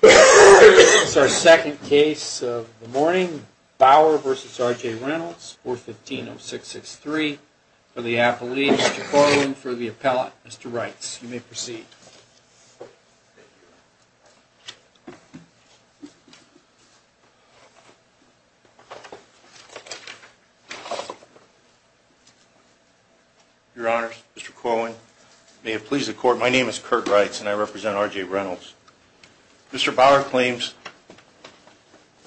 This is our second case of the morning, Bauer v. R.J. Reynolds, 415-0663. For the appellee, Mr. Corwin, for the appellate, Mr. Reitz, you may proceed. Thank you. Your Honors, Mr. Corwin, may it please the Court, my name is Kurt Reitz and I represent R.J. Reynolds. Mr. Bauer claims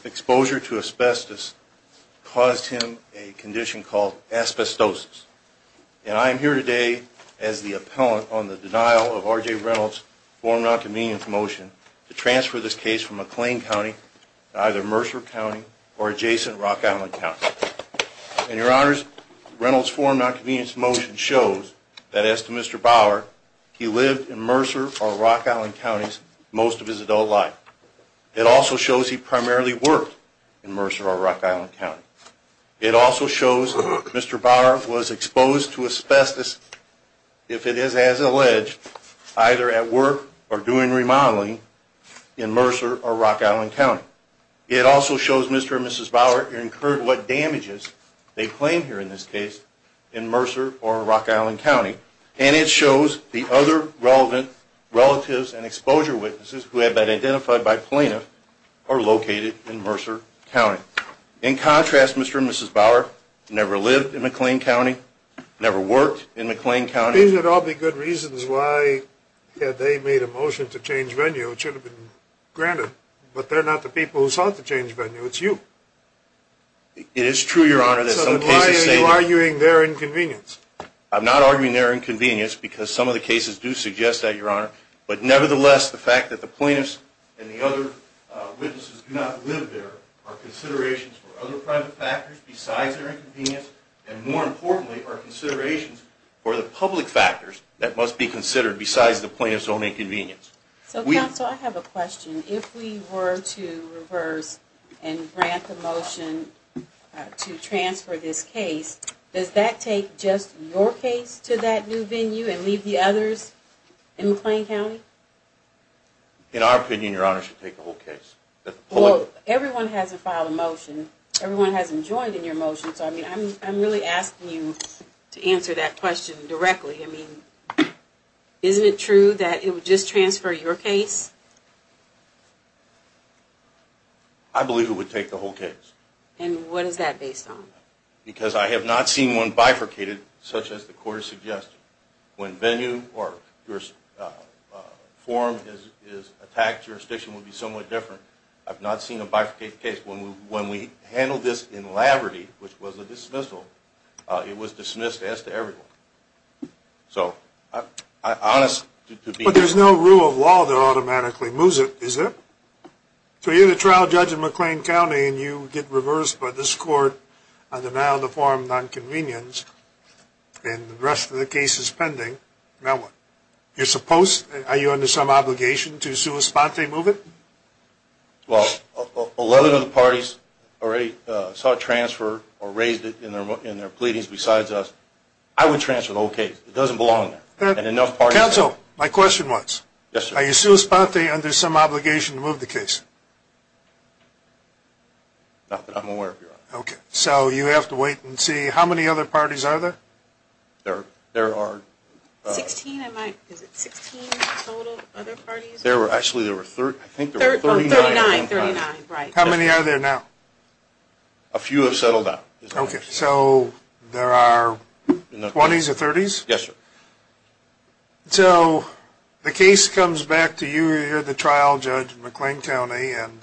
exposure to asbestos caused him a condition called asbestosis. And I am here today as the appellant on the denial of R.J. Reynolds' form of non-convenience motion to transfer this case from McLean County to either Mercer County or adjacent Rock Island County. And Your Honors, Reynolds' form of non-convenience motion shows that as to Mr. Bauer, he lived in Mercer or Rock Island Counties most of his adult life. It also shows he primarily worked in Mercer or Rock Island County. It also shows Mr. Bauer was exposed to asbestos, if it is as alleged, either at work or doing remodeling in Mercer or Rock Island County. It also shows Mr. and Mrs. Bauer incurred what damages, they claim here in this case, in Mercer or Rock Island County. And it shows the other relevant relatives and exposure witnesses who have been identified by plaintiff are located in Mercer County. In contrast, Mr. and Mrs. Bauer never lived in McLean County, never worked in McLean County. These would all be good reasons why, had they made a motion to change venue, it should have been granted. But they're not the people who sought to change venue, it's you. It is true, Your Honor. So then why are you arguing their inconvenience? I'm not arguing their inconvenience because some of the cases do suggest that, Your Honor. But nevertheless, the fact that the plaintiffs and the other witnesses do not live there are considerations for other private factors besides their inconvenience, and more importantly are considerations for the public factors that must be considered besides the plaintiff's own inconvenience. So, counsel, I have a question. If we were to reverse and grant the motion to transfer this case, does that take just your case to that new venue and leave the others in McLean County? In our opinion, Your Honor, it should take the whole case. Well, everyone hasn't filed a motion, everyone hasn't joined in your motion, so I'm really asking you to answer that question directly. I mean, isn't it true that it would just transfer your case? I believe it would take the whole case. And what is that based on? Because I have not seen one bifurcated such as the court has suggested. When venue or forum is attacked, jurisdiction would be somewhat different. I've not seen a bifurcated case. When we handled this in Laverty, which was a dismissal, it was dismissed as to everyone. But there's no rule of law that automatically moves it, is there? So you're the trial judge in McLean County and you get reversed by this court on denial of the forum nonconvenience and the rest of the case is pending. Now what? Are you under some obligation to sua sponte move it? Well, 11 of the parties already saw a transfer or raised it in their pleadings besides us. I would transfer the whole case. It doesn't belong there. Counsel, my question was, are you sua sponte under some obligation to move the case? Not that I'm aware of, Your Honor. Okay. So you have to wait and see. There are 16, is it 16 total other parties? Actually, there were 39. How many are there now? A few have settled down. Okay. So there are 20s or 30s? Yes, sir. So the case comes back to you. You're the trial judge in McLean County and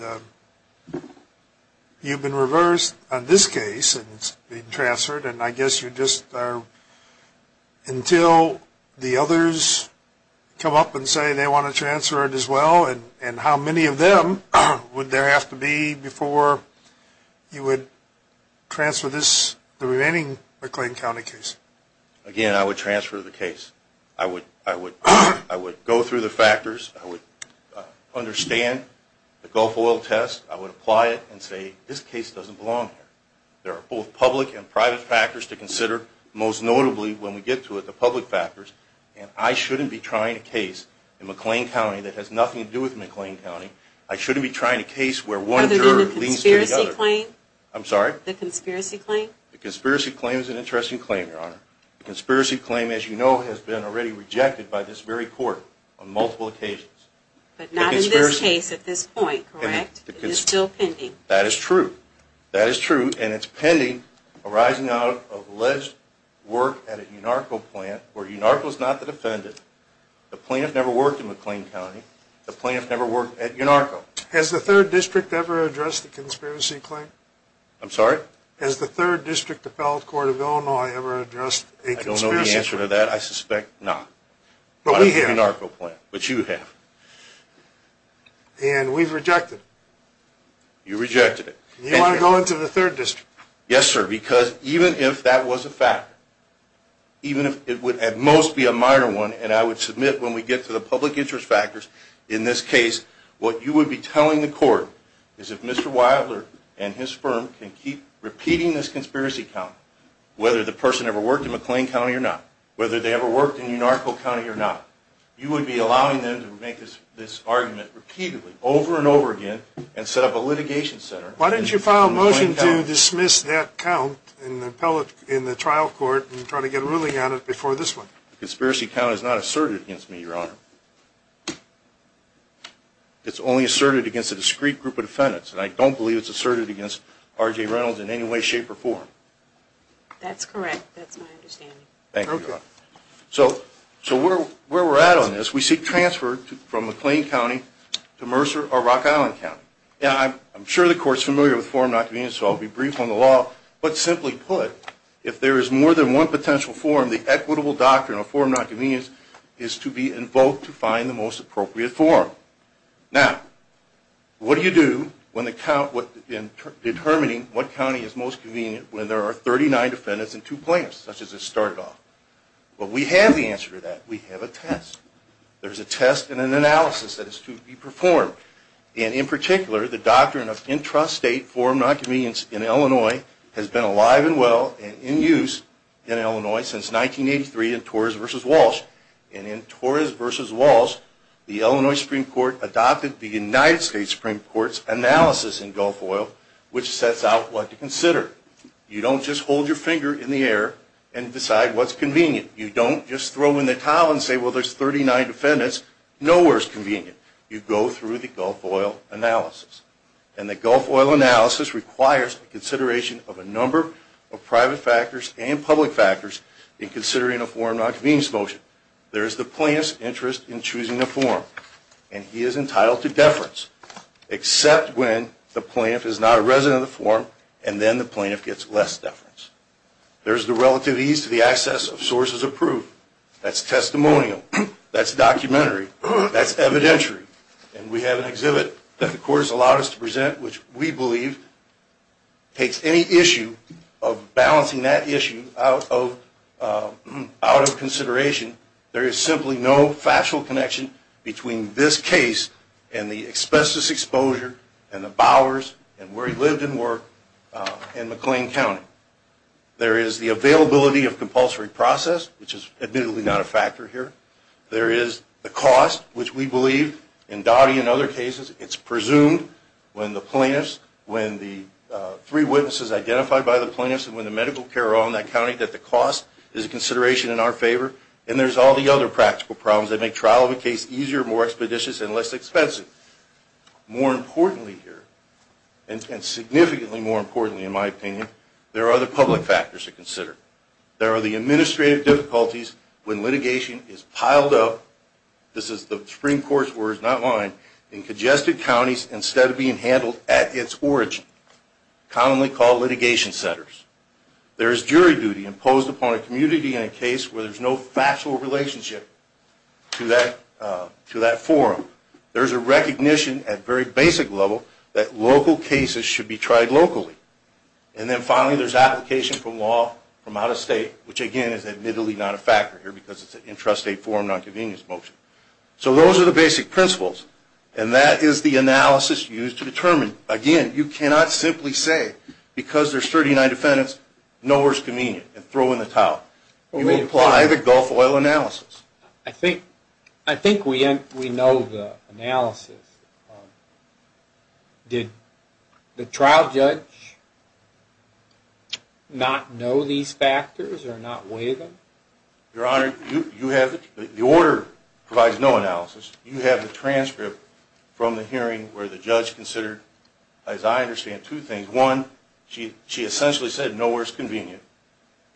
you've been reversed on this case and it's being transferred. And I guess you're just until the others come up and say they want to transfer it as well and how many of them would there have to be before you would transfer this, the remaining McLean County case? Again, I would transfer the case. I would go through the factors. I would understand the Gulf Oil test. I would apply it and say this case doesn't belong here. There are both public and private factors to consider, most notably when we get to the public factors, and I shouldn't be trying a case in McLean County that has nothing to do with McLean County. I shouldn't be trying a case where one juror leads to the other. Other than the conspiracy claim? I'm sorry? The conspiracy claim? The conspiracy claim is an interesting claim, Your Honor. The conspiracy claim, as you know, has been already rejected by this very court on multiple occasions. But not in this case at this point, correct? It is still pending. That is true. That is true, and it's pending arising out of alleged work at a UNARCO plant where UNARCO is not the defendant. The plaintiff never worked in McLean County. The plaintiff never worked at UNARCO. Has the 3rd District ever addressed the conspiracy claim? I'm sorry? Has the 3rd District Appellate Court of Illinois ever addressed a conspiracy claim? I don't know the answer to that. I suspect not. But we have. But you have. And we've rejected it. You rejected it. You want to go into the 3rd District? Yes, sir, because even if that was a factor, even if it would at most be a minor one, and I would submit when we get to the public interest factors in this case, what you would be telling the court is if Mr. Weitler and his firm can keep repeating this conspiracy count, whether the person ever worked in McLean County or not, whether they ever worked in UNARCO County or not, you would be allowing them to make this argument repeatedly, over and over again, and set up a litigation center. Why didn't you file a motion to dismiss that count in the trial court and try to get a ruling on it before this one? The conspiracy count is not asserted against me, Your Honor. It's only asserted against a discrete group of defendants, and I don't believe it's asserted against R.J. Reynolds in any way, shape, or form. That's correct. That's my understanding. Thank you, Your Honor. So where we're at on this, we seek transfer from McLean County to Mercer or Rock Island County. I'm sure the court's familiar with form not convenience, so I'll be brief on the law, but simply put, if there is more than one potential form, the equitable doctrine of form not convenience is to be invoked to find the most appropriate form. Now, what do you do in determining what county is most convenient when there are 39 defendants and two plaintiffs, such as at start it off? Well, we have the answer to that. We have a test. There's a test and an analysis that is to be performed, and in particular, the doctrine of intrastate form not convenience in Illinois has been alive and well and in use in Illinois since 1983 in Torres v. Walsh, and in Torres v. Walsh, the Illinois Supreme Court adopted the United States Supreme Court's analysis in Gulf Oil, which sets out what to consider. You don't just hold your finger in the air and decide what's convenient. You don't just throw in the towel and say, well, there's 39 defendants. Nowhere is convenient. You go through the Gulf Oil analysis, and the Gulf Oil analysis requires the consideration of a number of private factors and public factors in considering a form not convenience motion. There is the plaintiff's interest in choosing a form, and he is entitled to deference except when the plaintiff is not a resident of the form, and then the plaintiff gets less deference. There's the relative ease to the access of sources of proof. That's testimonial. That's documentary. That's evidentiary. And we have an exhibit that the court has allowed us to present, which we believe takes any issue of balancing that issue out of consideration. There is simply no factual connection between this case and the asbestos exposure and the Bowers and where he lived and worked in McLean County. There is the availability of compulsory process, which is admittedly not a factor here. There is the cost, which we believe in Dottie and other cases, it's presumed when the plaintiffs, when the three witnesses identified by the plaintiffs and when the medical care are all in that county that the cost is a consideration in our favor, and there's all the other practical problems that make trial of a case easier, more expeditious, and less expensive. More importantly here, and significantly more importantly in my opinion, there are other public factors to consider. There are the administrative difficulties when litigation is piled up, this is the Supreme Court's words, not mine, in congested counties instead of being handled at its origin, commonly called litigation centers. There is jury duty imposed upon a community in a case where there's no factual relationship to that forum. There's a recognition at very basic level that local cases should be tried locally. And then finally there's application for law from out of state, which again is admittedly not a factor here because it's an intrastate forum nonconvenience motion. So those are the basic principles, and that is the analysis used to determine, again, you cannot simply say because there's 39 defendants, nowhere is convenient, and throw in the towel. You apply the Gulf oil analysis. I think we know the analysis. Did the trial judge not know these factors or not weigh them? Your Honor, the order provides no analysis. You have the transcript from the hearing where the judge considered, as I understand, two things. One, she essentially said nowhere is convenient,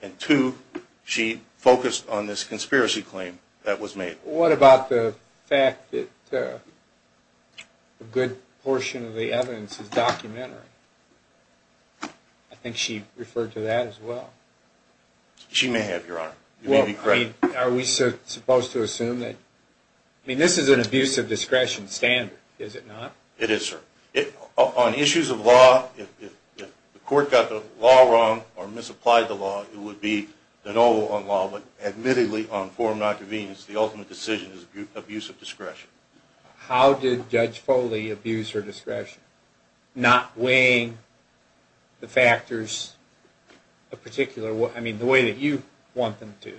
and two, she focused on this conspiracy claim that was made. What about the fact that a good portion of the evidence is documentary? I think she referred to that as well. She may have, Your Honor. Are we supposed to assume that? I mean, this is an abuse of discretion standard, is it not? It is, sir. On issues of law, if the court got the law wrong or misapplied the law, it would be de novo on law. But admittedly on forum nonconvenience, the ultimate decision is abuse of discretion. How did Judge Foley abuse her discretion? Not weighing the factors a particular way. I mean, the way that you want them to.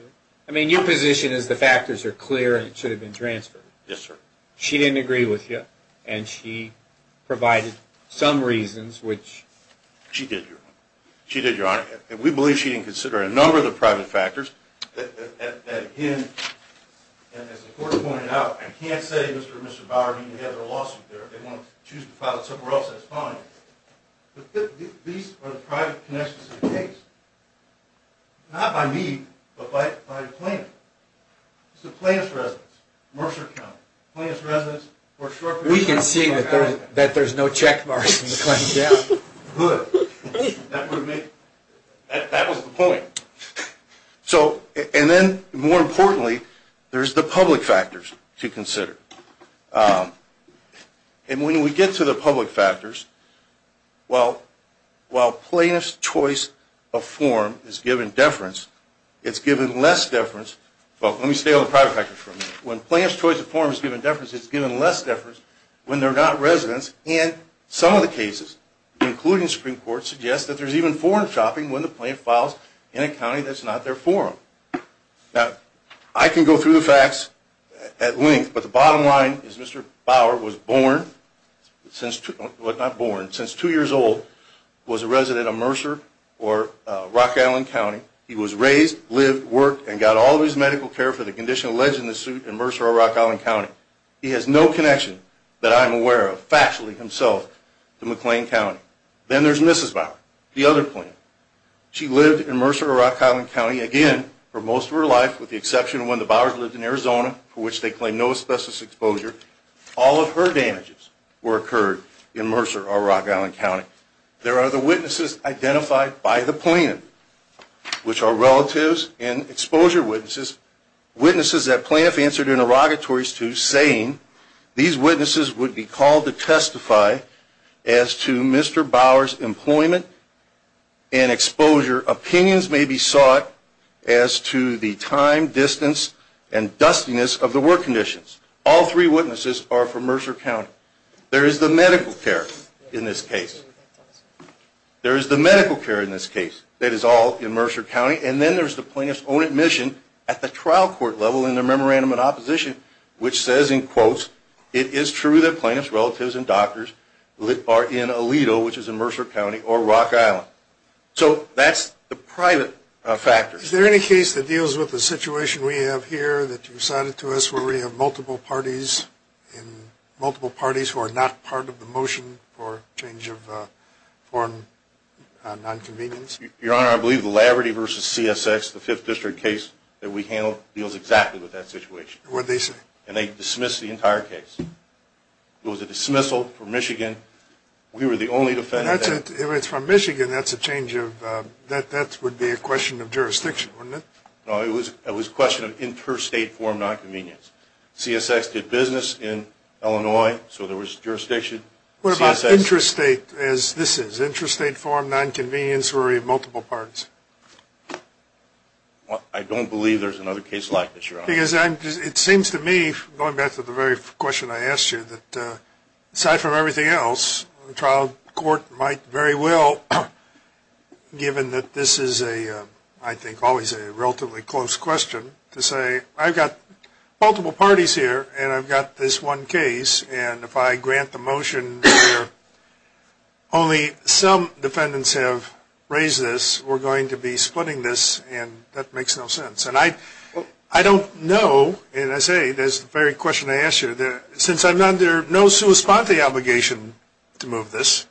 I mean, your position is the factors are clear and it should have been transferred. Yes, sir. She didn't agree with you, and she provided some reasons which... She did, Your Honor. She did, Your Honor, and we believe she didn't consider a number of the private factors. And again, as the court pointed out, I can't say Mr. and Mr. Bauer need to have their lawsuit there. They want to choose to file it somewhere else that's fine. But these are the private connections of the case. Not by me, but by the plaintiff. It's the plaintiff's residence, Mercer County. The plaintiff's residence for a short period of time. We can see that there's no check marks in the claimant's account. Good. That was the point. And then, more importantly, there's the public factors to consider. And when we get to the public factors, while plaintiff's choice of form is given deference, it's given less deference... Well, let me stay on the private factors for a minute. When plaintiff's choice of form is given deference, it's given less deference when they're not residents. And some of the cases, including the Supreme Court, suggest that there's even foreign shopping when the plaintiff files in a county that's not their forum. Now, I can go through the facts at length, but the bottom line is Mr. Bauer was born... Well, not born. Since two years old, was a resident of Mercer or Rock Island County. He was raised, lived, worked, and got all of his medical care for the condition alleged in the suit in Mercer or Rock Island County. He has no connection that I'm aware of, factually, himself, to McLean County. Then there's Mrs. Bauer, the other plaintiff. She lived in Mercer or Rock Island County, again, for most of her life, with the exception of when the Bauers lived in Arizona, for which they claim no asbestos exposure. All of her damages were occurred in Mercer or Rock Island County. There are the witnesses identified by the plaintiff, which are relatives and exposure witnesses, witnesses that plaintiff answered interrogatories to, saying these witnesses would be called to testify as to Mr. Bauer's employment and exposure. Opinions may be sought as to the time, distance, and dustiness of the work conditions. All three witnesses are from Mercer County. There is the medical care in this case. There is the medical care in this case. That is all in Mercer County. And then there's the plaintiff's own admission at the trial court level in the memorandum of opposition, which says, in quotes, it is true that plaintiffs' relatives and doctors are in Aledo, which is in Mercer County, or Rock Island. So that's the private factor. Is there any case that deals with the situation we have here, that you cited to us where we have multiple parties, and multiple parties who are not part of the motion for change of foreign nonconvenience? Your Honor, I believe the Laverty v. CSX, the Fifth District case that we handled, deals exactly with that situation. And they dismissed the entire case. It was a dismissal from Michigan. We were the only defendant. If it's from Michigan, that would be a question of jurisdiction, wouldn't it? No, it was a question of interstate foreign nonconvenience. CSX did business in Illinois, so there was jurisdiction. What about interstate, as this is? Interstate foreign nonconvenience where we have multiple parties? I don't believe there's another case like this, Your Honor. Because it seems to me, going back to the very question I asked you, that aside from everything else, the trial court might very well, given that this is, I think, always a relatively close question, to say I've got multiple parties here, and I've got this one case, and if I grant the motion where only some defendants have raised this, we're going to be splitting this, and that makes no sense. And I don't know, and I say, as the very question I asked you, since I'm under no sua sponte obligation to move this,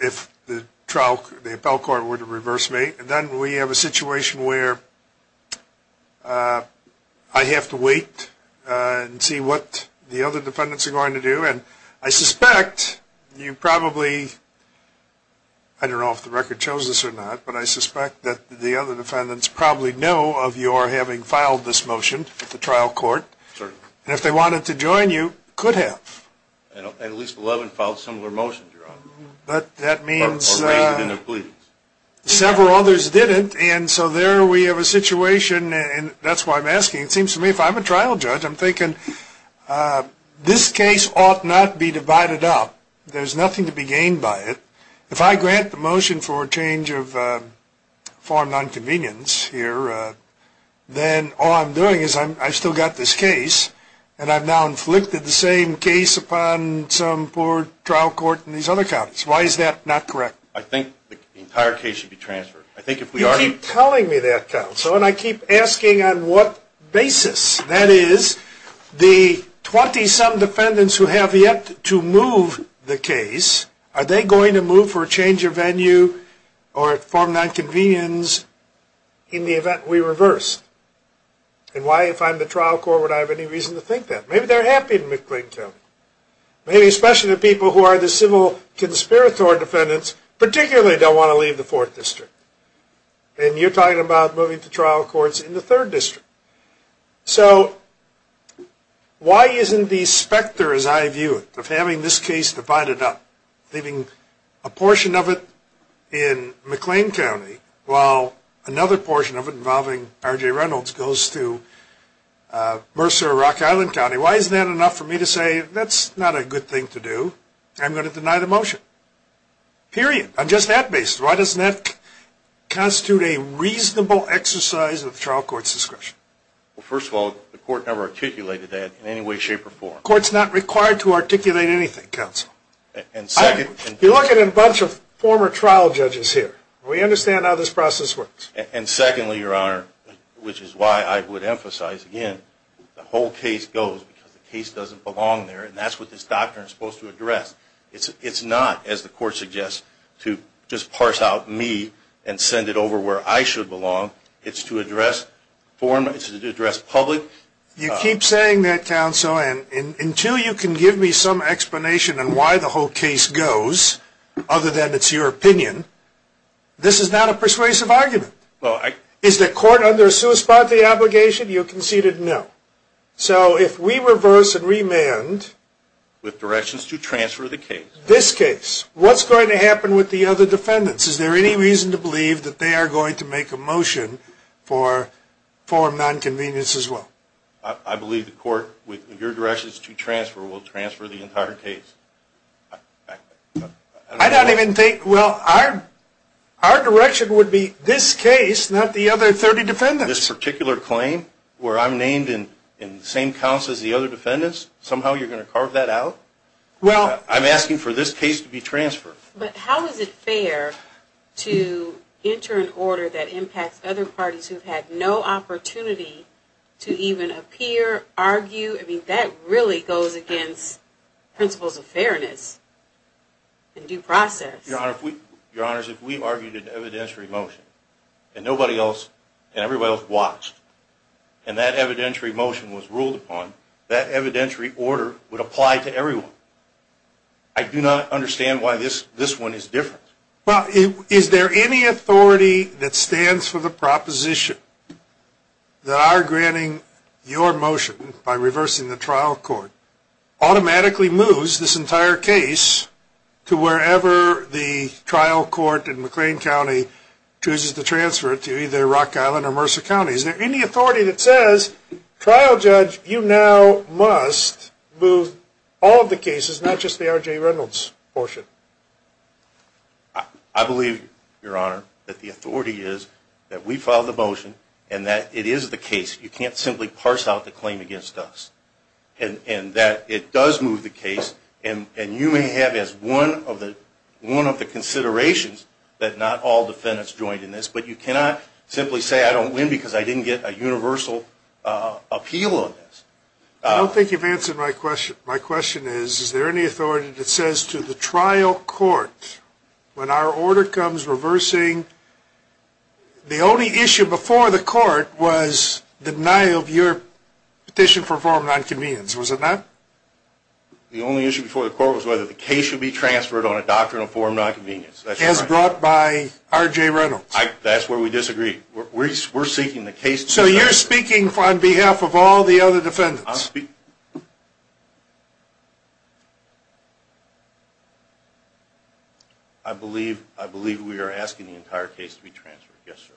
if the trial court, the appellate court were to reverse me, then we have a situation where I have to wait and see what the other defendants are going to do. And I suspect you probably, I don't know if the record shows this or not, but I suspect that the other defendants probably know of your having filed this motion at the trial court, and if they wanted to join you, could have. At least 11 filed similar motions, Your Honor. But that means several others didn't, and so there we have a situation, and that's why I'm asking, it seems to me, if I'm a trial judge, I'm thinking this case ought not be divided up. There's nothing to be gained by it. If I grant the motion for a change of farm nonconvenience here, then all I'm doing is I've still got this case, and I've now inflicted the same case upon some poor trial court and these other counties. Why is that not correct? I think the entire case should be transferred. You keep telling me that, counsel, and I keep asking on what basis. That is, the 20-some defendants who have yet to move the case, are they going to move for a change of venue or farm nonconvenience in the event we reverse? And why, if I'm the trial court, would I have any reason to think that? Maybe they're happy in McLean County. Maybe especially the people who are the civil conspirator defendants particularly don't want to leave the 4th District. And you're talking about moving to trial courts in the 3rd District. So why isn't the specter, as I view it, of having this case divided up, leaving a portion of it in McLean County, while another portion of it involving R.J. Reynolds goes to Mercer or Rock Island County, why isn't that enough for me to say that's not a good thing to do? I'm going to deny the motion. Period. On just that basis, why doesn't that constitute a reasonable exercise of the trial court's discretion? Well, first of all, the court never articulated that in any way, shape, or form. The court's not required to articulate anything, counsel. You're looking at a bunch of former trial judges here. We understand how this process works. And secondly, Your Honor, which is why I would emphasize again, the whole case goes because the case doesn't belong there, and that's what this doctrine is supposed to address. It's not, as the court suggests, to just parse out me and send it over where I should belong. It's to address public. You keep saying that, counsel, and until you can give me some explanation on why the whole case goes, other than it's your opinion, this is not a persuasive argument. Is the court under a sui sponte obligation? You conceded no. So if we reverse and remand with directions to transfer the case, this case, what's going to happen with the other defendants? Is there any reason to believe that they are going to make a motion for nonconvenience as well? I believe the court, with your directions to transfer, will transfer the entire case. I don't even think, well, our direction would be this case, not the other 30 defendants. This particular claim, where I'm named in the same counts as the other defendants, somehow you're going to carve that out? I'm asking for this case to be transferred. But how is it fair to enter an order that impacts other parties who have had no opportunity to even appear, argue? I mean, that really goes against principles of fairness and due process. Your Honor, if we argued an evidentiary motion, and nobody else and everybody else watched, and that evidentiary motion was ruled upon, that evidentiary order would apply to everyone. I do not understand why this one is different. Well, is there any authority that stands for the proposition that our granting your motion by reversing the trial court automatically moves this entire case to wherever the trial court in McLean County chooses to transfer it to, either Rock Island or Mercer County? Is there any authority that says, trial judge, you now must move all of the cases, not just the R.J. Reynolds portion? I believe, Your Honor, that the authority is that we filed the motion and that it is the case. You can't simply parse out the claim against us. And that it does move the case, and you may have as one of the considerations that not all defendants joined in this. But you cannot simply say, I don't win because I didn't get a universal appeal on this. I don't think you've answered my question. My question is, is there any authority that says to the trial court, when our order comes reversing, the only issue before the court was the denial of your petition for a form of nonconvenience. Was it not? The only issue before the court was whether the case should be transferred on a doctrinal form of nonconvenience. As brought by R.J. Reynolds. That's where we disagree. We're seeking the case to be transferred. So you're speaking on behalf of all the other defendants. I believe we are asking the entire case to be transferred. Yes, sir.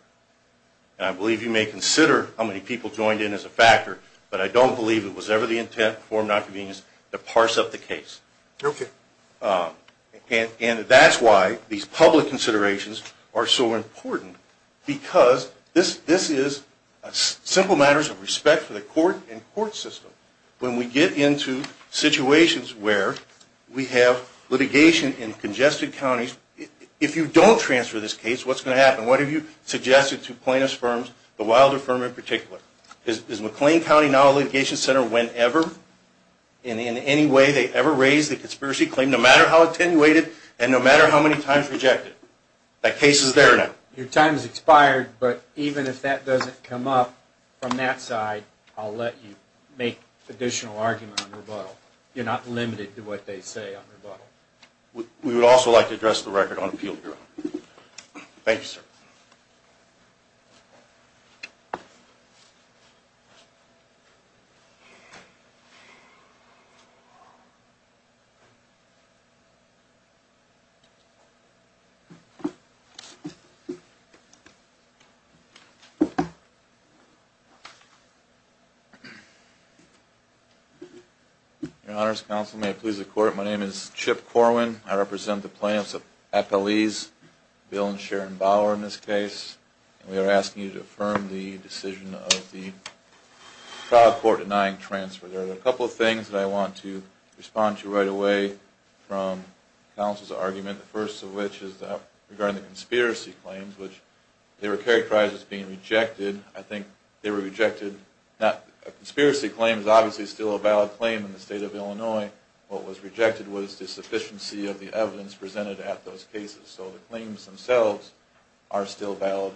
And I believe you may consider how many people joined in as a factor, but I don't believe it was ever the intent for nonconvenience to parse up the case. Okay. And that's why these public considerations are so important, because this is simple matters of respect for the court and court system. When we get into situations where we have litigation in congested counties, if you don't transfer this case, what's going to happen? What have you suggested to plaintiffs' firms, the Wilder firm in particular? Is McLean County now a litigation center whenever, and in any way they ever raise the conspiracy claim, no matter how attenuated and no matter how many times rejected? That case is there now. Your time has expired, but even if that doesn't come up from that side, I'll let you make additional argument on rebuttal. You're not limited to what they say on rebuttal. We would also like to address the record on appeal, Your Honor. Thank you, sir. Thank you. Your Honors, counsel, may it please the Court, my name is Chip Corwin. I represent the plaintiffs' FLEs, Bill and Sharon Bauer in this case, and we are asking you to affirm the decision of the trial court denying transfer. There are a couple of things that I want to respond to right away from counsel's argument, the first of which is regarding the conspiracy claims, which they were characterized as being rejected. I think they were rejected. A conspiracy claim is obviously still a valid claim in the state of Illinois. What was rejected was the sufficiency of the evidence presented at those cases, so the claims themselves are still valid.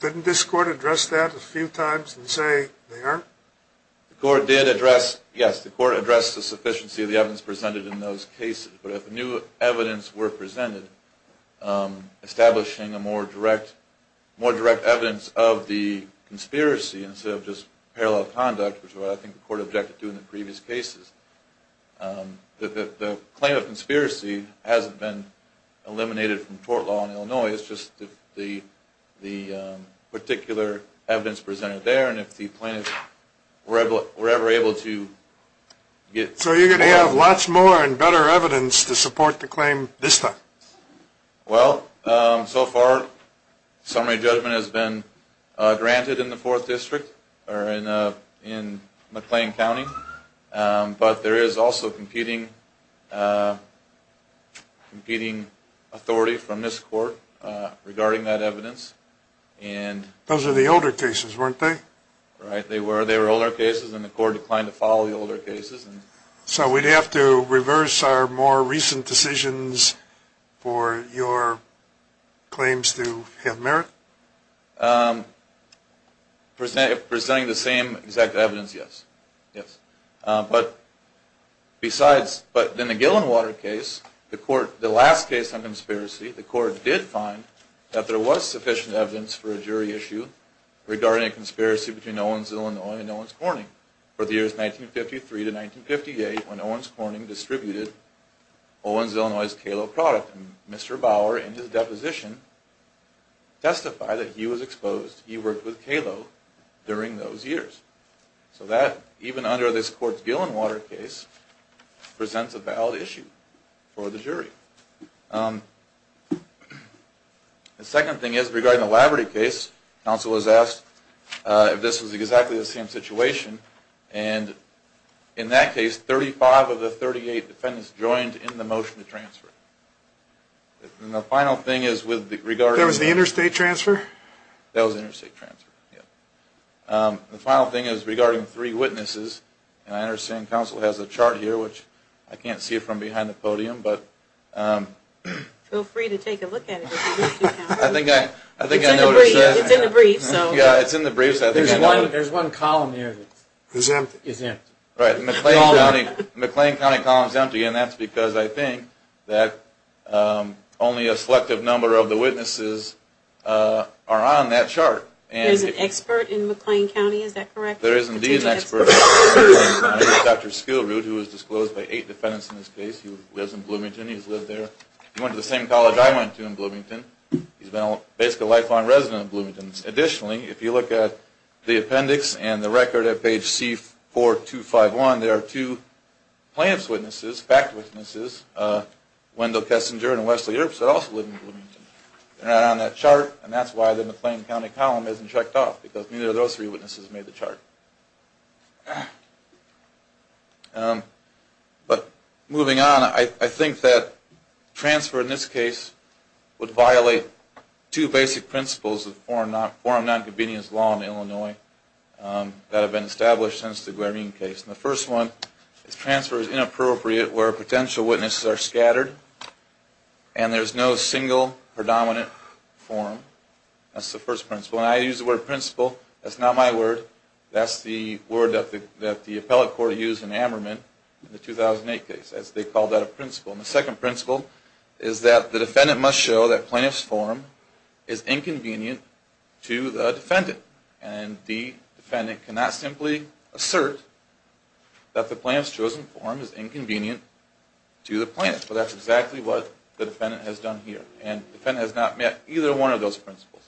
Didn't this Court address that a few times and say they aren't? The Court did address, yes, the Court addressed the sufficiency of the evidence presented in those cases, but if new evidence were presented establishing a more direct evidence of the conspiracy instead of just parallel conduct, which is what I think the Court objected to in the previous cases, the claim of conspiracy hasn't been eliminated from court law in Illinois. It's just the particular evidence presented there, and if the plaintiffs were ever able to get... So you're going to have lots more and better evidence to support the claim this time? Well, so far, summary judgment has been granted in the 4th District, or in McLean County, but there is also competing authority from this Court regarding that evidence. Those were the older cases, weren't they? Right, they were. They were older cases, and the Court declined to follow the older cases. So we'd have to reverse our more recent decisions for your claims to have merit? Presenting the same exact evidence, yes. But then the Gillenwater case, the last case on conspiracy, the Court did find that there was sufficient evidence for a jury issue regarding a conspiracy between Owens, Illinois and Owens Corning for the years 1953 to 1958, when Owens Corning distributed Owens, Illinois' Kalo product, and that Mr. Bauer, in his deposition, testified that he was exposed. He worked with Kalo during those years. So that, even under this Court's Gillenwater case, presents a valid issue for the jury. The second thing is, regarding the Laverty case, counsel was asked if this was exactly the same situation, and in that case, 35 of the 38 defendants joined in the motion to transfer. That was the interstate transfer? That was interstate transfer, yes. The final thing is, regarding three witnesses, and I understand counsel has a chart here, which I can't see it from behind the podium, but... Feel free to take a look at it if you wish to, counsel. It's in the brief, so... There's one column here that is empty. Right, the McLean County column is empty, and that's because I think that only a selective number of the witnesses are on that chart. There's an expert in McLean County, is that correct? There is indeed an expert. Dr. Skillroot, who was disclosed by eight defendants in this case, who lives in Bloomington, he's lived there. He went to the same college I went to in Bloomington. He's been basically a lifelong resident of Bloomington. Additionally, if you look at the appendix and the record at page C4251, there are two plaintiff's witnesses, fact witnesses, Wendell Kessinger and Wesley Irps that also live in Bloomington. They're not on that chart, and that's why the McLean County column isn't checked off, because neither of those three witnesses made the chart. But moving on, I think that transfer in this case would violate two basic principles of forum nonconvenience law in Illinois that have been established since the Guarine case. The first one is transfer is inappropriate where potential witnesses are scattered and there's no single predominant forum. That's the first principle. When I use the word principle, that's not my word. That's the word that the appellate court used in Ammerman in the 2008 case. They called that a principle. The second principle is that the defendant must show that plaintiff's forum is inconvenient to the defendant, and the defendant cannot simply assert that the plaintiff's chosen forum is inconvenient to the plaintiff. That's exactly what the defendant has done here, and the defendant has not met either one of those principles.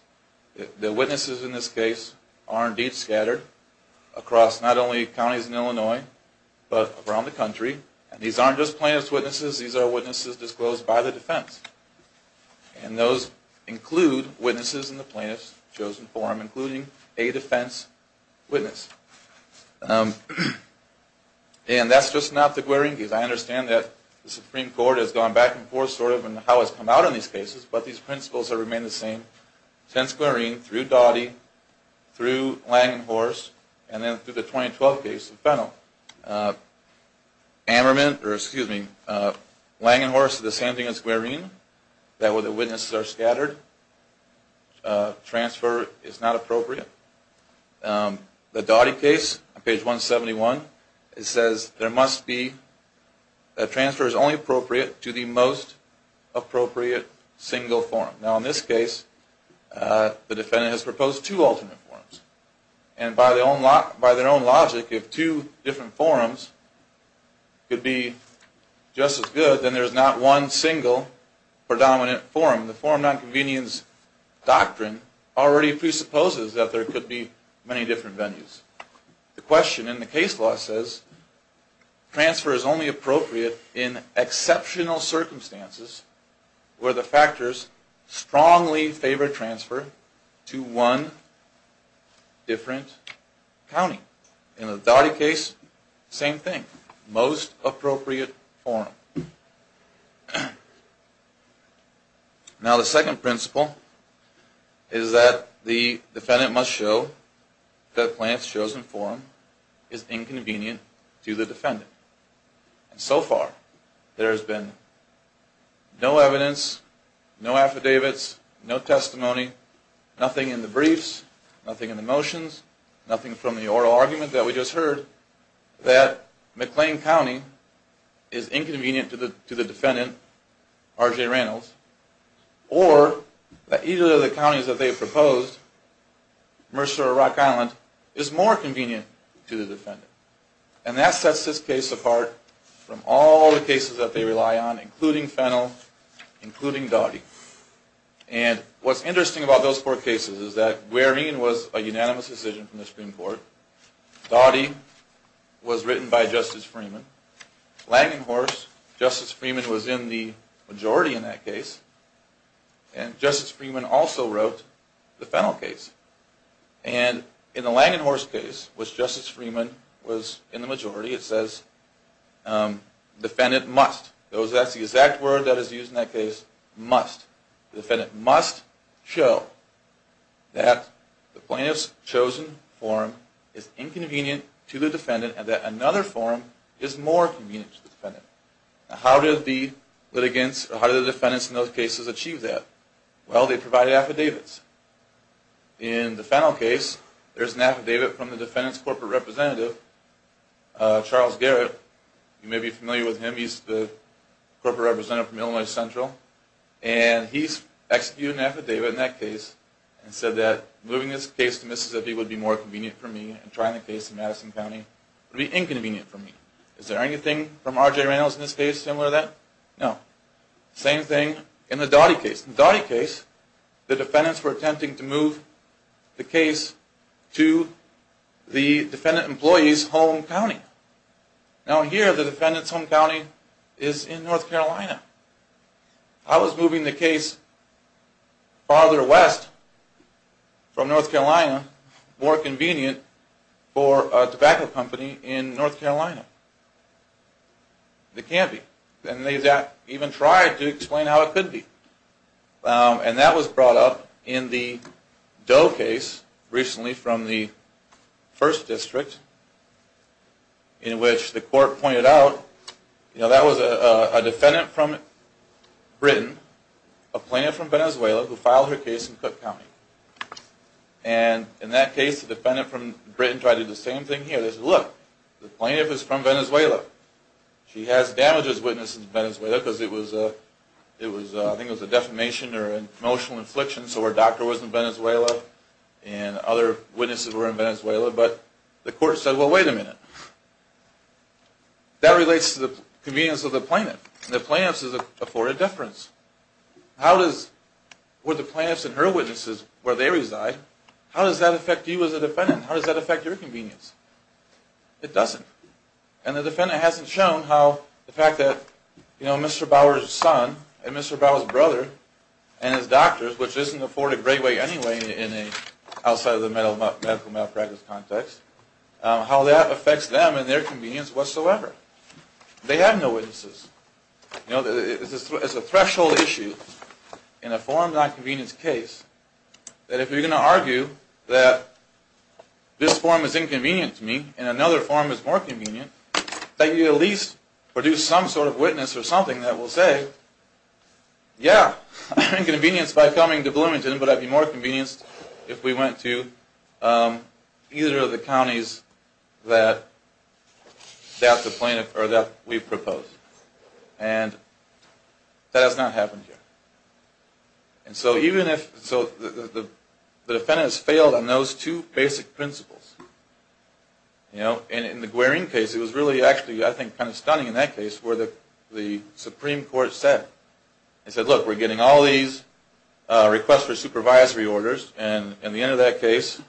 The witnesses in this case are indeed scattered across not only counties in Illinois but around the country, and these aren't just plaintiff's witnesses. These are witnesses disclosed by the defense, and those include witnesses in the plaintiff's chosen forum, including a defense witness. And that's just not the Guarine case. I understand that the Supreme Court has gone back and forth sort of in how it's come out in these cases, but these principles have remained the same since Guarine through Doughty, through Lang and Horst, and then through the 2012 case of Fennell. Lang and Horst is the same thing as Guarine, where the witnesses are scattered. Transfer is not appropriate. The Doughty case, on page 171, it says that transfer is only appropriate to the most appropriate single forum. Now, in this case, the defendant has proposed two alternate forums, and by their own logic, if two different forums could be just as good, then there's not one single predominant forum. The forum nonconvenience doctrine already presupposes that there could be many different venues. The question in the case law says transfer is only appropriate in exceptional circumstances where the factors strongly favor transfer to one different county. In the Doughty case, same thing, most appropriate forum. Now, the second principle is that the defendant must show that the plaintiff's chosen forum is inconvenient to the defendant. So far, there has been no evidence, no affidavits, no testimony, nothing in the briefs, nothing in the motions, nothing from the oral argument that we just heard, that McLean County is inconvenient to the defendant, R.J. Reynolds, or that either of the counties that they have proposed, Mercer or Rock Island, is more convenient to the defendant. And that sets this case apart from all the cases that they rely on, including Fennell, including Doughty. And what's interesting about those four cases is that Guérin was a unanimous decision from the Supreme Court. Doughty was written by Justice Freeman. Langenhorst, Justice Freeman was in the majority in that case. And Justice Freeman also wrote the Fennell case. And in the Langenhorst case, which Justice Freeman was in the majority, it says defendant must. That's the exact word that is used in that case, must. The defendant must show that the plaintiff's chosen forum is inconvenient to the defendant and that another forum is more convenient to the defendant. How did the defendants in those cases achieve that? Well, they provided affidavits. In the Fennell case, there's an affidavit from the defendant's corporate representative, Charles Garrett. You may be familiar with him. He's the corporate representative from Illinois Central. And he's executed an affidavit in that case and said that moving this case to Mississippi would be more convenient for me and trying the case in Madison County would be inconvenient for me. Is there anything from R.J. Reynolds in this case similar to that? No. Same thing in the Doughty case. In the Doughty case, the defendants were attempting to move the case to the defendant employee's home county. Now here, the defendant's home county is in North Carolina. How is moving the case farther west from North Carolina more convenient for a tobacco company in North Carolina? It can't be. And they even tried to explain how it could be. And that was brought up in the Doe case recently from the 1st District, in which the court pointed out that was a defendant from Britain, a plaintiff from Venezuela, who filed her case in Cook County. And in that case, the defendant from Britain tried to do the same thing here. They said, look, the plaintiff is from Venezuela. She has damages witnesses in Venezuela because I think it was a defamation or an emotional infliction. So her doctor was in Venezuela, and other witnesses were in Venezuela. But the court said, well, wait a minute. That relates to the convenience of the plaintiff. And the plaintiff is afforded deference. How would the plaintiff's and her witnesses, where they reside, how does that affect you as a defendant? How does that affect your convenience? It doesn't. And the defendant hasn't shown how the fact that Mr. Bauer's son and Mr. Bauer's brother and his doctors, which isn't afforded great weight anyway outside of the medical malpractice context, how that affects them and their convenience whatsoever. They have no witnesses. It's a threshold issue in a form-not-convenience case that if you're going to argue that this form is inconvenient to me and another form is more convenient, that you at least produce some sort of witness or something that will say, yeah, I'm inconvenienced by coming to Bloomington, but I'd be more convenienced if we went to either of the counties that we proposed. And that has not happened here. And so the defendants failed on those two basic principles. And in the Guarine case, it was really actually, I think, kind of stunning in that case where the Supreme Court said, they said, look, we're getting all these requests for supervisory orders, and at the end of that case,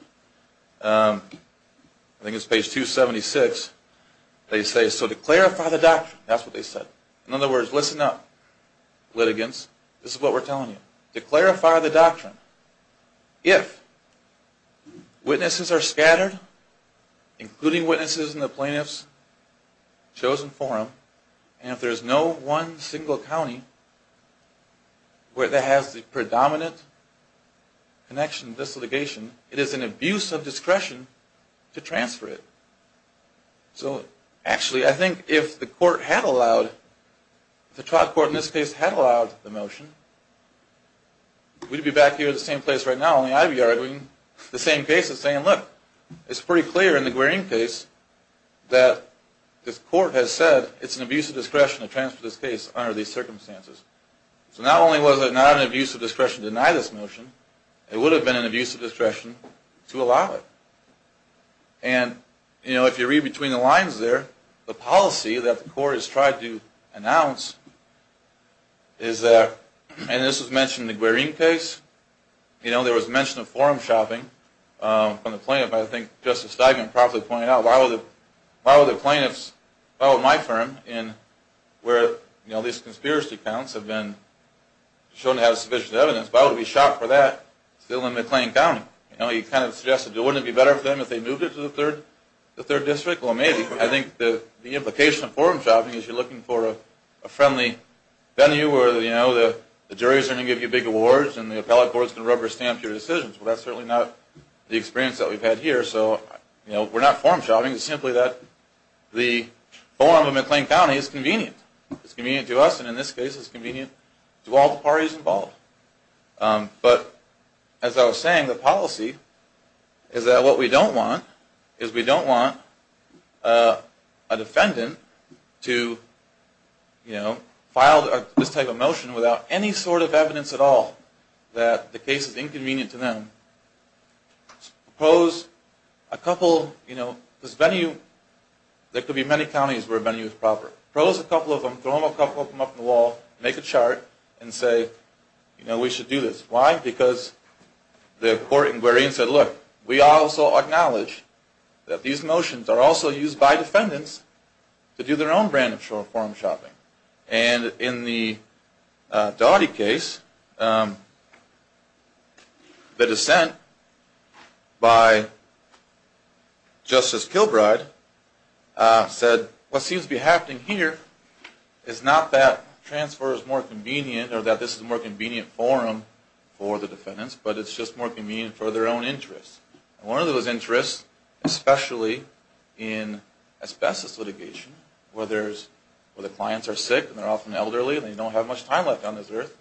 I think it's page 276, they say, so to clarify the doctrine, that's what they said. In other words, listen up, litigants. This is what we're telling you. To clarify the doctrine, if witnesses are scattered, including witnesses in the plaintiff's chosen forum, and if there's no one single county that has the predominant connection to this litigation, it is an abuse of discretion to transfer it. So actually, I think if the court had allowed, if the trial court in this case had allowed the motion, we'd be back here at the same place right now on the IBR doing the same case and saying, look, it's pretty clear in the Guarine case that this court has said it's an abuse of discretion to transfer this case under these circumstances. So not only was it not an abuse of discretion to deny this motion, it would have been an abuse of discretion to allow it. And if you read between the lines there, the policy that the court has tried to announce is that, and this was mentioned in the Guarine case, there was mention of forum shopping from the plaintiff. I think Justice Steigman properly pointed out, why would the plaintiffs follow my firm where these conspiracy accounts have been shown to have sufficient evidence, why would we shop for that still in McLean County? He kind of suggested, wouldn't it be better for them if they moved it to the third district? Well, maybe. I think the implication of forum shopping is you're looking for a friendly venue where the juries are going to give you big awards and the appellate courts can rubber stamp your decisions. Well, that's certainly not the experience that we've had here. So we're not forum shopping. It's simply that the forum in McLean County is convenient. It's convenient to us, and in this case, it's convenient to all the parties involved. But as I was saying, the policy is that what we don't want is we don't want a defendant to file this type of motion without any sort of evidence at all that the case is inconvenient to them. Suppose a couple, you know, this venue, there could be many counties where a venue is proper. Suppose a couple of them, throw them a couple of them up on the wall, make a chart, and say, you know, we should do this. Why? Why? Because the court said, look, we also acknowledge that these motions are also used by defendants to do their own brand of forum shopping. And in the Dawdy case, the dissent by Justice Kilbride said, what seems to be happening here is not that transfer is more convenient or that this is a more convenient forum for the defendants, but it's just more convenient for their own interests. One of those interests, especially in asbestos litigation, where the clients are sick and they're often elderly and they don't have much time left on this earth,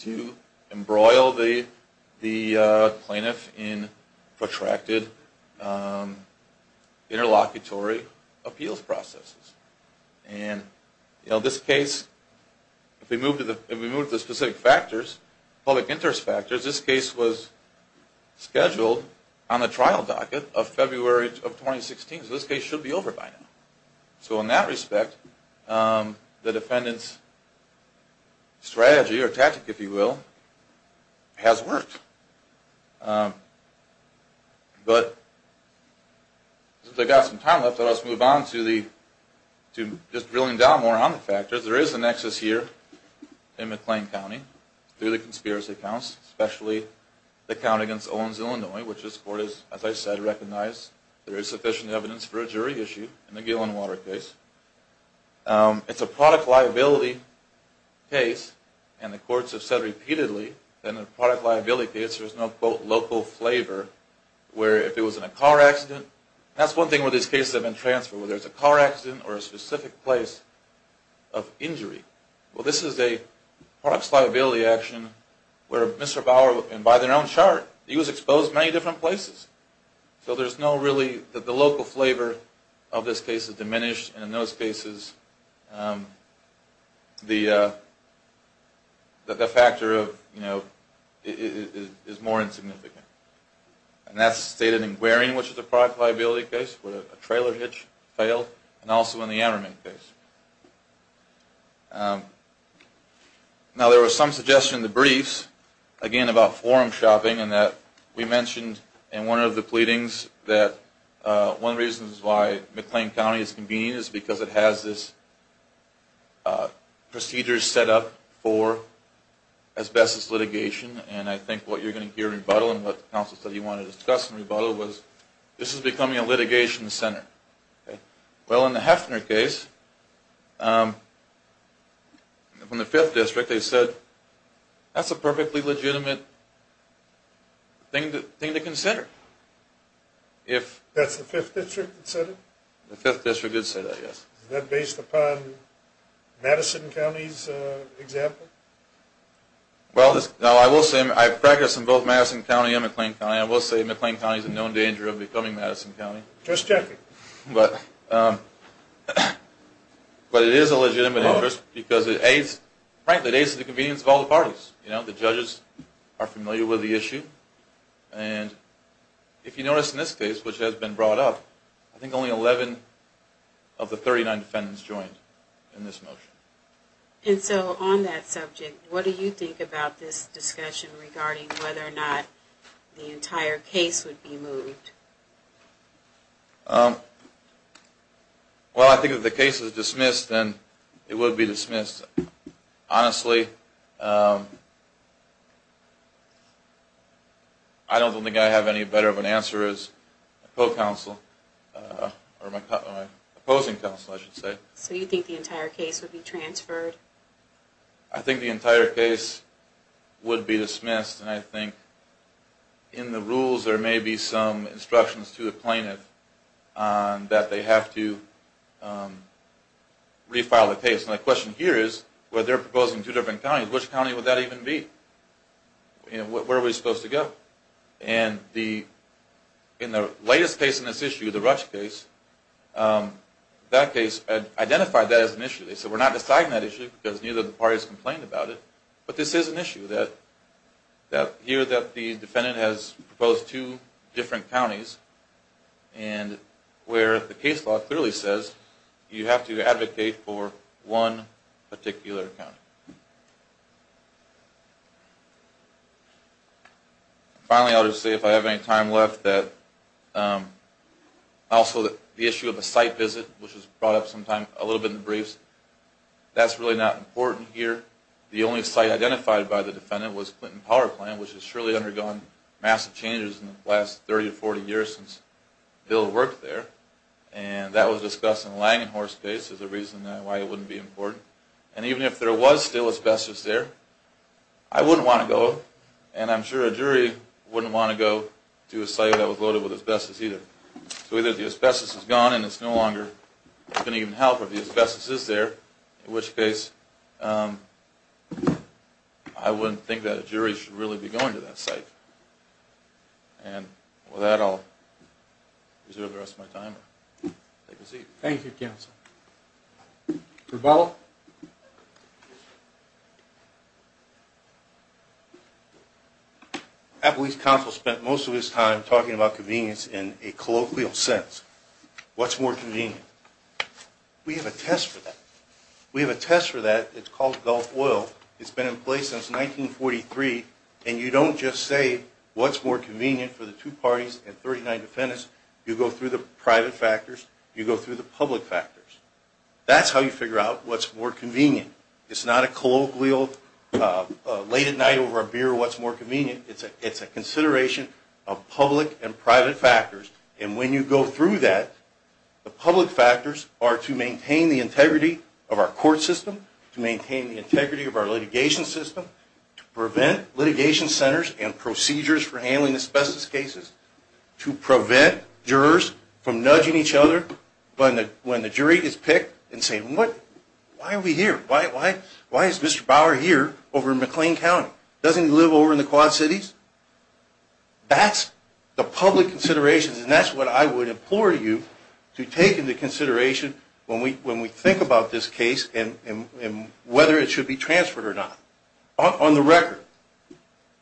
to embroil the plaintiff in protracted interlocutory appeals processes. And, you know, this case, if we move to the specific factors, public interest factors, this case was scheduled on the trial docket of February of 2016. So this case should be over by now. So in that respect, the defendant's strategy, or tactic, if you will, has worked. But since I've got some time left, I'll just move on to just drilling down more on the factors. There is a nexus here in McLean County through the conspiracy accounts, especially the count against Owens, Illinois, which this court has, as I said, recognized there is sufficient evidence for a jury issue in the Gillenwater case. It's a product liability case, and the courts have said repeatedly that in a product liability case there's no, quote, local flavor, where if it was in a car accident, that's one thing where these cases have been transferred, whether it's a car accident or a specific place of injury. Well, this is a product liability action where Mr. Bauer, and by their own chart, he was exposed to many different places. So there's no really, the local flavor of this case is diminished, and in those cases the factor of, you know, is more insignificant. And that's stated in Guerin, which is a product liability case, where a trailer hitch failed, and also in the Ammerman case. Now, there was some suggestion in the briefs, again, about forum shopping, and that we mentioned in one of the pleadings that one of the reasons why McLean County is convenient is because it has this procedure set up for asbestos litigation. And I think what you're going to hear in rebuttal, and what the counsel said he wanted to discuss in rebuttal, was this is becoming a litigation center. Well, in the Heffner case, from the Fifth District, they said, that's a perfectly legitimate thing to consider. That's the Fifth District that said it? The Fifth District did say that, yes. Is that based upon Madison County's example? Well, I will say, I practice in both Madison County and McLean County, and I will say McLean County is in no danger of becoming Madison County. Just checking. But it is a legitimate interest because it aids, frankly, it aids the convenience of all the parties. You know, the judges are familiar with the issue. And if you notice in this case, which has been brought up, I think only 11 of the 39 defendants joined in this motion. And so on that subject, what do you think about this discussion regarding whether or not the entire case would be moved? Well, I think if the case is dismissed, then it would be dismissed. Honestly, I don't think I have any better of an answer as a co-counsel, or my opposing counsel, I should say. So you think the entire case would be transferred? I think the entire case would be dismissed, and I think in the rules there may be some instructions to the plaintiff that they have to refile the case. And the question here is, where they're proposing two different counties, which county would that even be? Where are we supposed to go? And in the latest case in this issue, the Rush case, that case identified that as an issue. They said, we're not deciding that issue because neither of the parties complained about it. But this is an issue that here that the defendant has proposed two different counties, and where the case law clearly says you have to advocate for one particular county. Finally, I'll just say if I have any time left that also the issue of a site visit, which was brought up a little bit in the briefs, that's really not important here. The only site identified by the defendant was Clinton Power Plant, which has surely undergone massive changes in the last 30 or 40 years since Bill worked there. And that was discussed in Langenhorst case as a reason why it wouldn't be important. And even if there was still asbestos there, I wouldn't want to go, and I'm sure a jury wouldn't want to go to a site that was loaded with asbestos either. So either the asbestos is gone and it's no longer going to even help, or the asbestos is there, in which case I wouldn't think that a jury should really be going to that site. And with that, I'll reserve the rest of my time and take a seat. Thank you, counsel. Rebella? I believe counsel spent most of his time talking about convenience in a colloquial sense. What's more convenient? We have a test for that. We have a test for that. It's called Gulf Oil. It's been in place since 1943, and you don't just say what's more convenient for the two parties and 39 defendants. You go through the private factors. You go through the public factors. That's how you figure out what's more convenient. It's not a colloquial, late at night over a beer, what's more convenient. It's a consideration of public and private factors, and when you go through that, the public factors are to maintain the integrity of our court system, to maintain the integrity of our litigation system, to prevent litigation centers and procedures for handling asbestos cases, to prevent jurors from nudging each other when the jury is picked and saying, Why are we here? Why is Mr. Bauer here over in McLean County? Doesn't he live over in the Quad Cities? That's the public considerations, and that's what I would implore you to take into consideration when we think about this case and whether it should be transferred or not. On the record,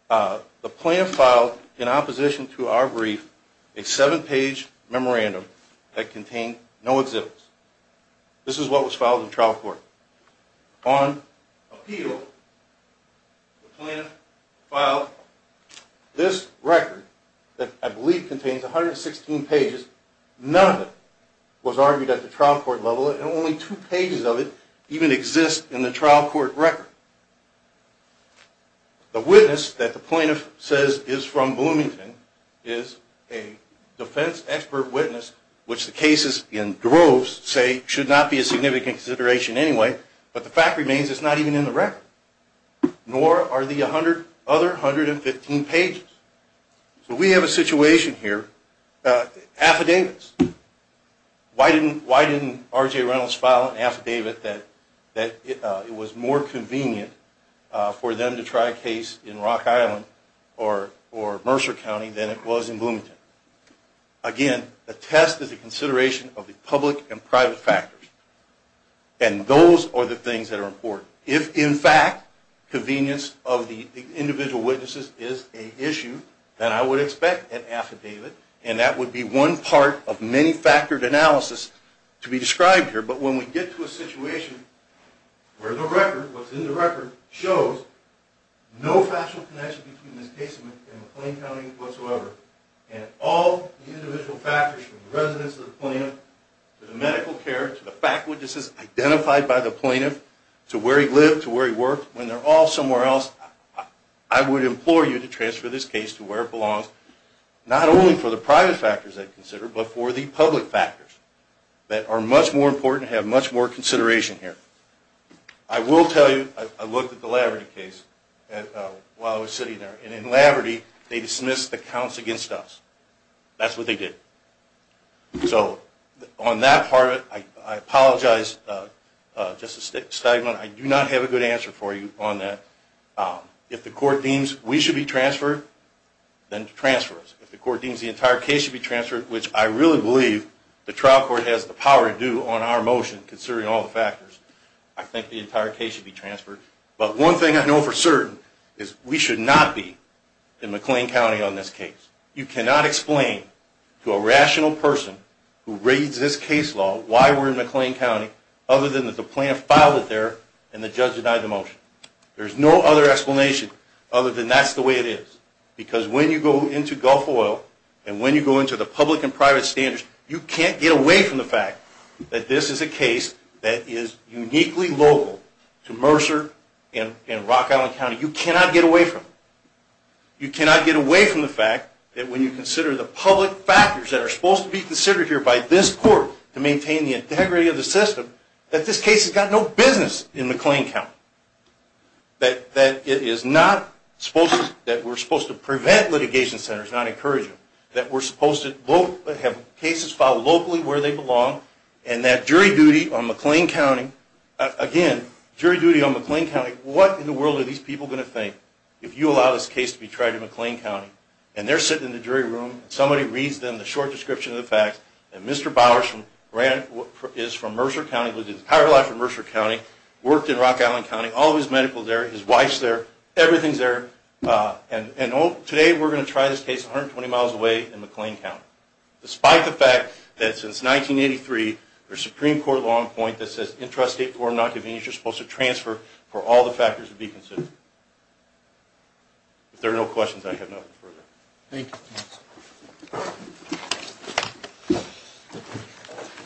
the plaintiff filed, in opposition to our brief, a seven-page memorandum that contained no exhibits. This is what was filed in trial court. On appeal, the plaintiff filed this record that I believe contains 116 pages. None of it was argued at the trial court level, and only two pages of it even exist in the trial court record. The witness that the plaintiff says is from Bloomington is a defense expert witness, which the cases in droves say should not be a significant consideration anyway, but the fact remains it's not even in the record, nor are the other 115 pages. So we have a situation here. Affidavits. Why didn't R.J. Reynolds file an affidavit that it was more convenient for them to try a case in Rock Island or Mercer County than it was in Bloomington? Again, a test is a consideration of the public and private factors, and those are the things that are important. If, in fact, convenience of the individual witnesses is an issue, then I would expect an affidavit, and that would be one part of many-factored analysis to be described here. But when we get to a situation where the record, what's in the record, shows no factual connection between this case and McLean County whatsoever, and all the individual factors from the residence of the plaintiff to the medical care, to the fact witnesses identified by the plaintiff, to where he lived, to where he worked, when they're all somewhere else, I would implore you to transfer this case to where it belongs, not only for the private factors they consider, but for the public factors that are much more important and have much more consideration here. I will tell you, I looked at the Laverty case while I was sitting there, and in Laverty, they dismissed the counts against us. That's what they did. So on that part of it, I apologize. Just a statement. I do not have a good answer for you on that. If the court deems we should be transferred, then transfer us. If the court deems the entire case should be transferred, which I really believe the trial court has the power to do on our motion, considering all the factors, I think the entire case should be transferred. But one thing I know for certain is we should not be in McLean County on this case. You cannot explain to a rational person who reads this case law why we're in McLean County other than that the plaintiff filed it there and the judge denied the motion. There's no other explanation other than that's the way it is, because when you go into Gulf Oil and when you go into the public and private standards, you can't get away from the fact that this is a case that is uniquely local to Mercer and Rock Island County. You cannot get away from it. You cannot get away from the fact that when you consider the public factors that are supposed to be considered here by this court to maintain the integrity of the system, that this case has got no business in McLean County, that we're supposed to prevent litigation centers, not encourage them, that we're supposed to have cases filed locally where they belong, and that jury duty on McLean County, again, jury duty on McLean County, what in the world are these people going to think if you allow this case to be tried in McLean County? And they're sitting in the jury room, and somebody reads them the short description of the facts, and Mr. Bowers is from Mercer County, lived his entire life in Mercer County, worked in Rock Island County, all of his medical is there, his wife's there, everything's there, and today we're going to try this case 120 miles away in McLean County, despite the fact that since 1983, there's a Supreme Court law in point that says intrastate form of nonconvenience you're supposed to transfer for all the factors to be considered. If there are no questions, I have nothing further. Thank you.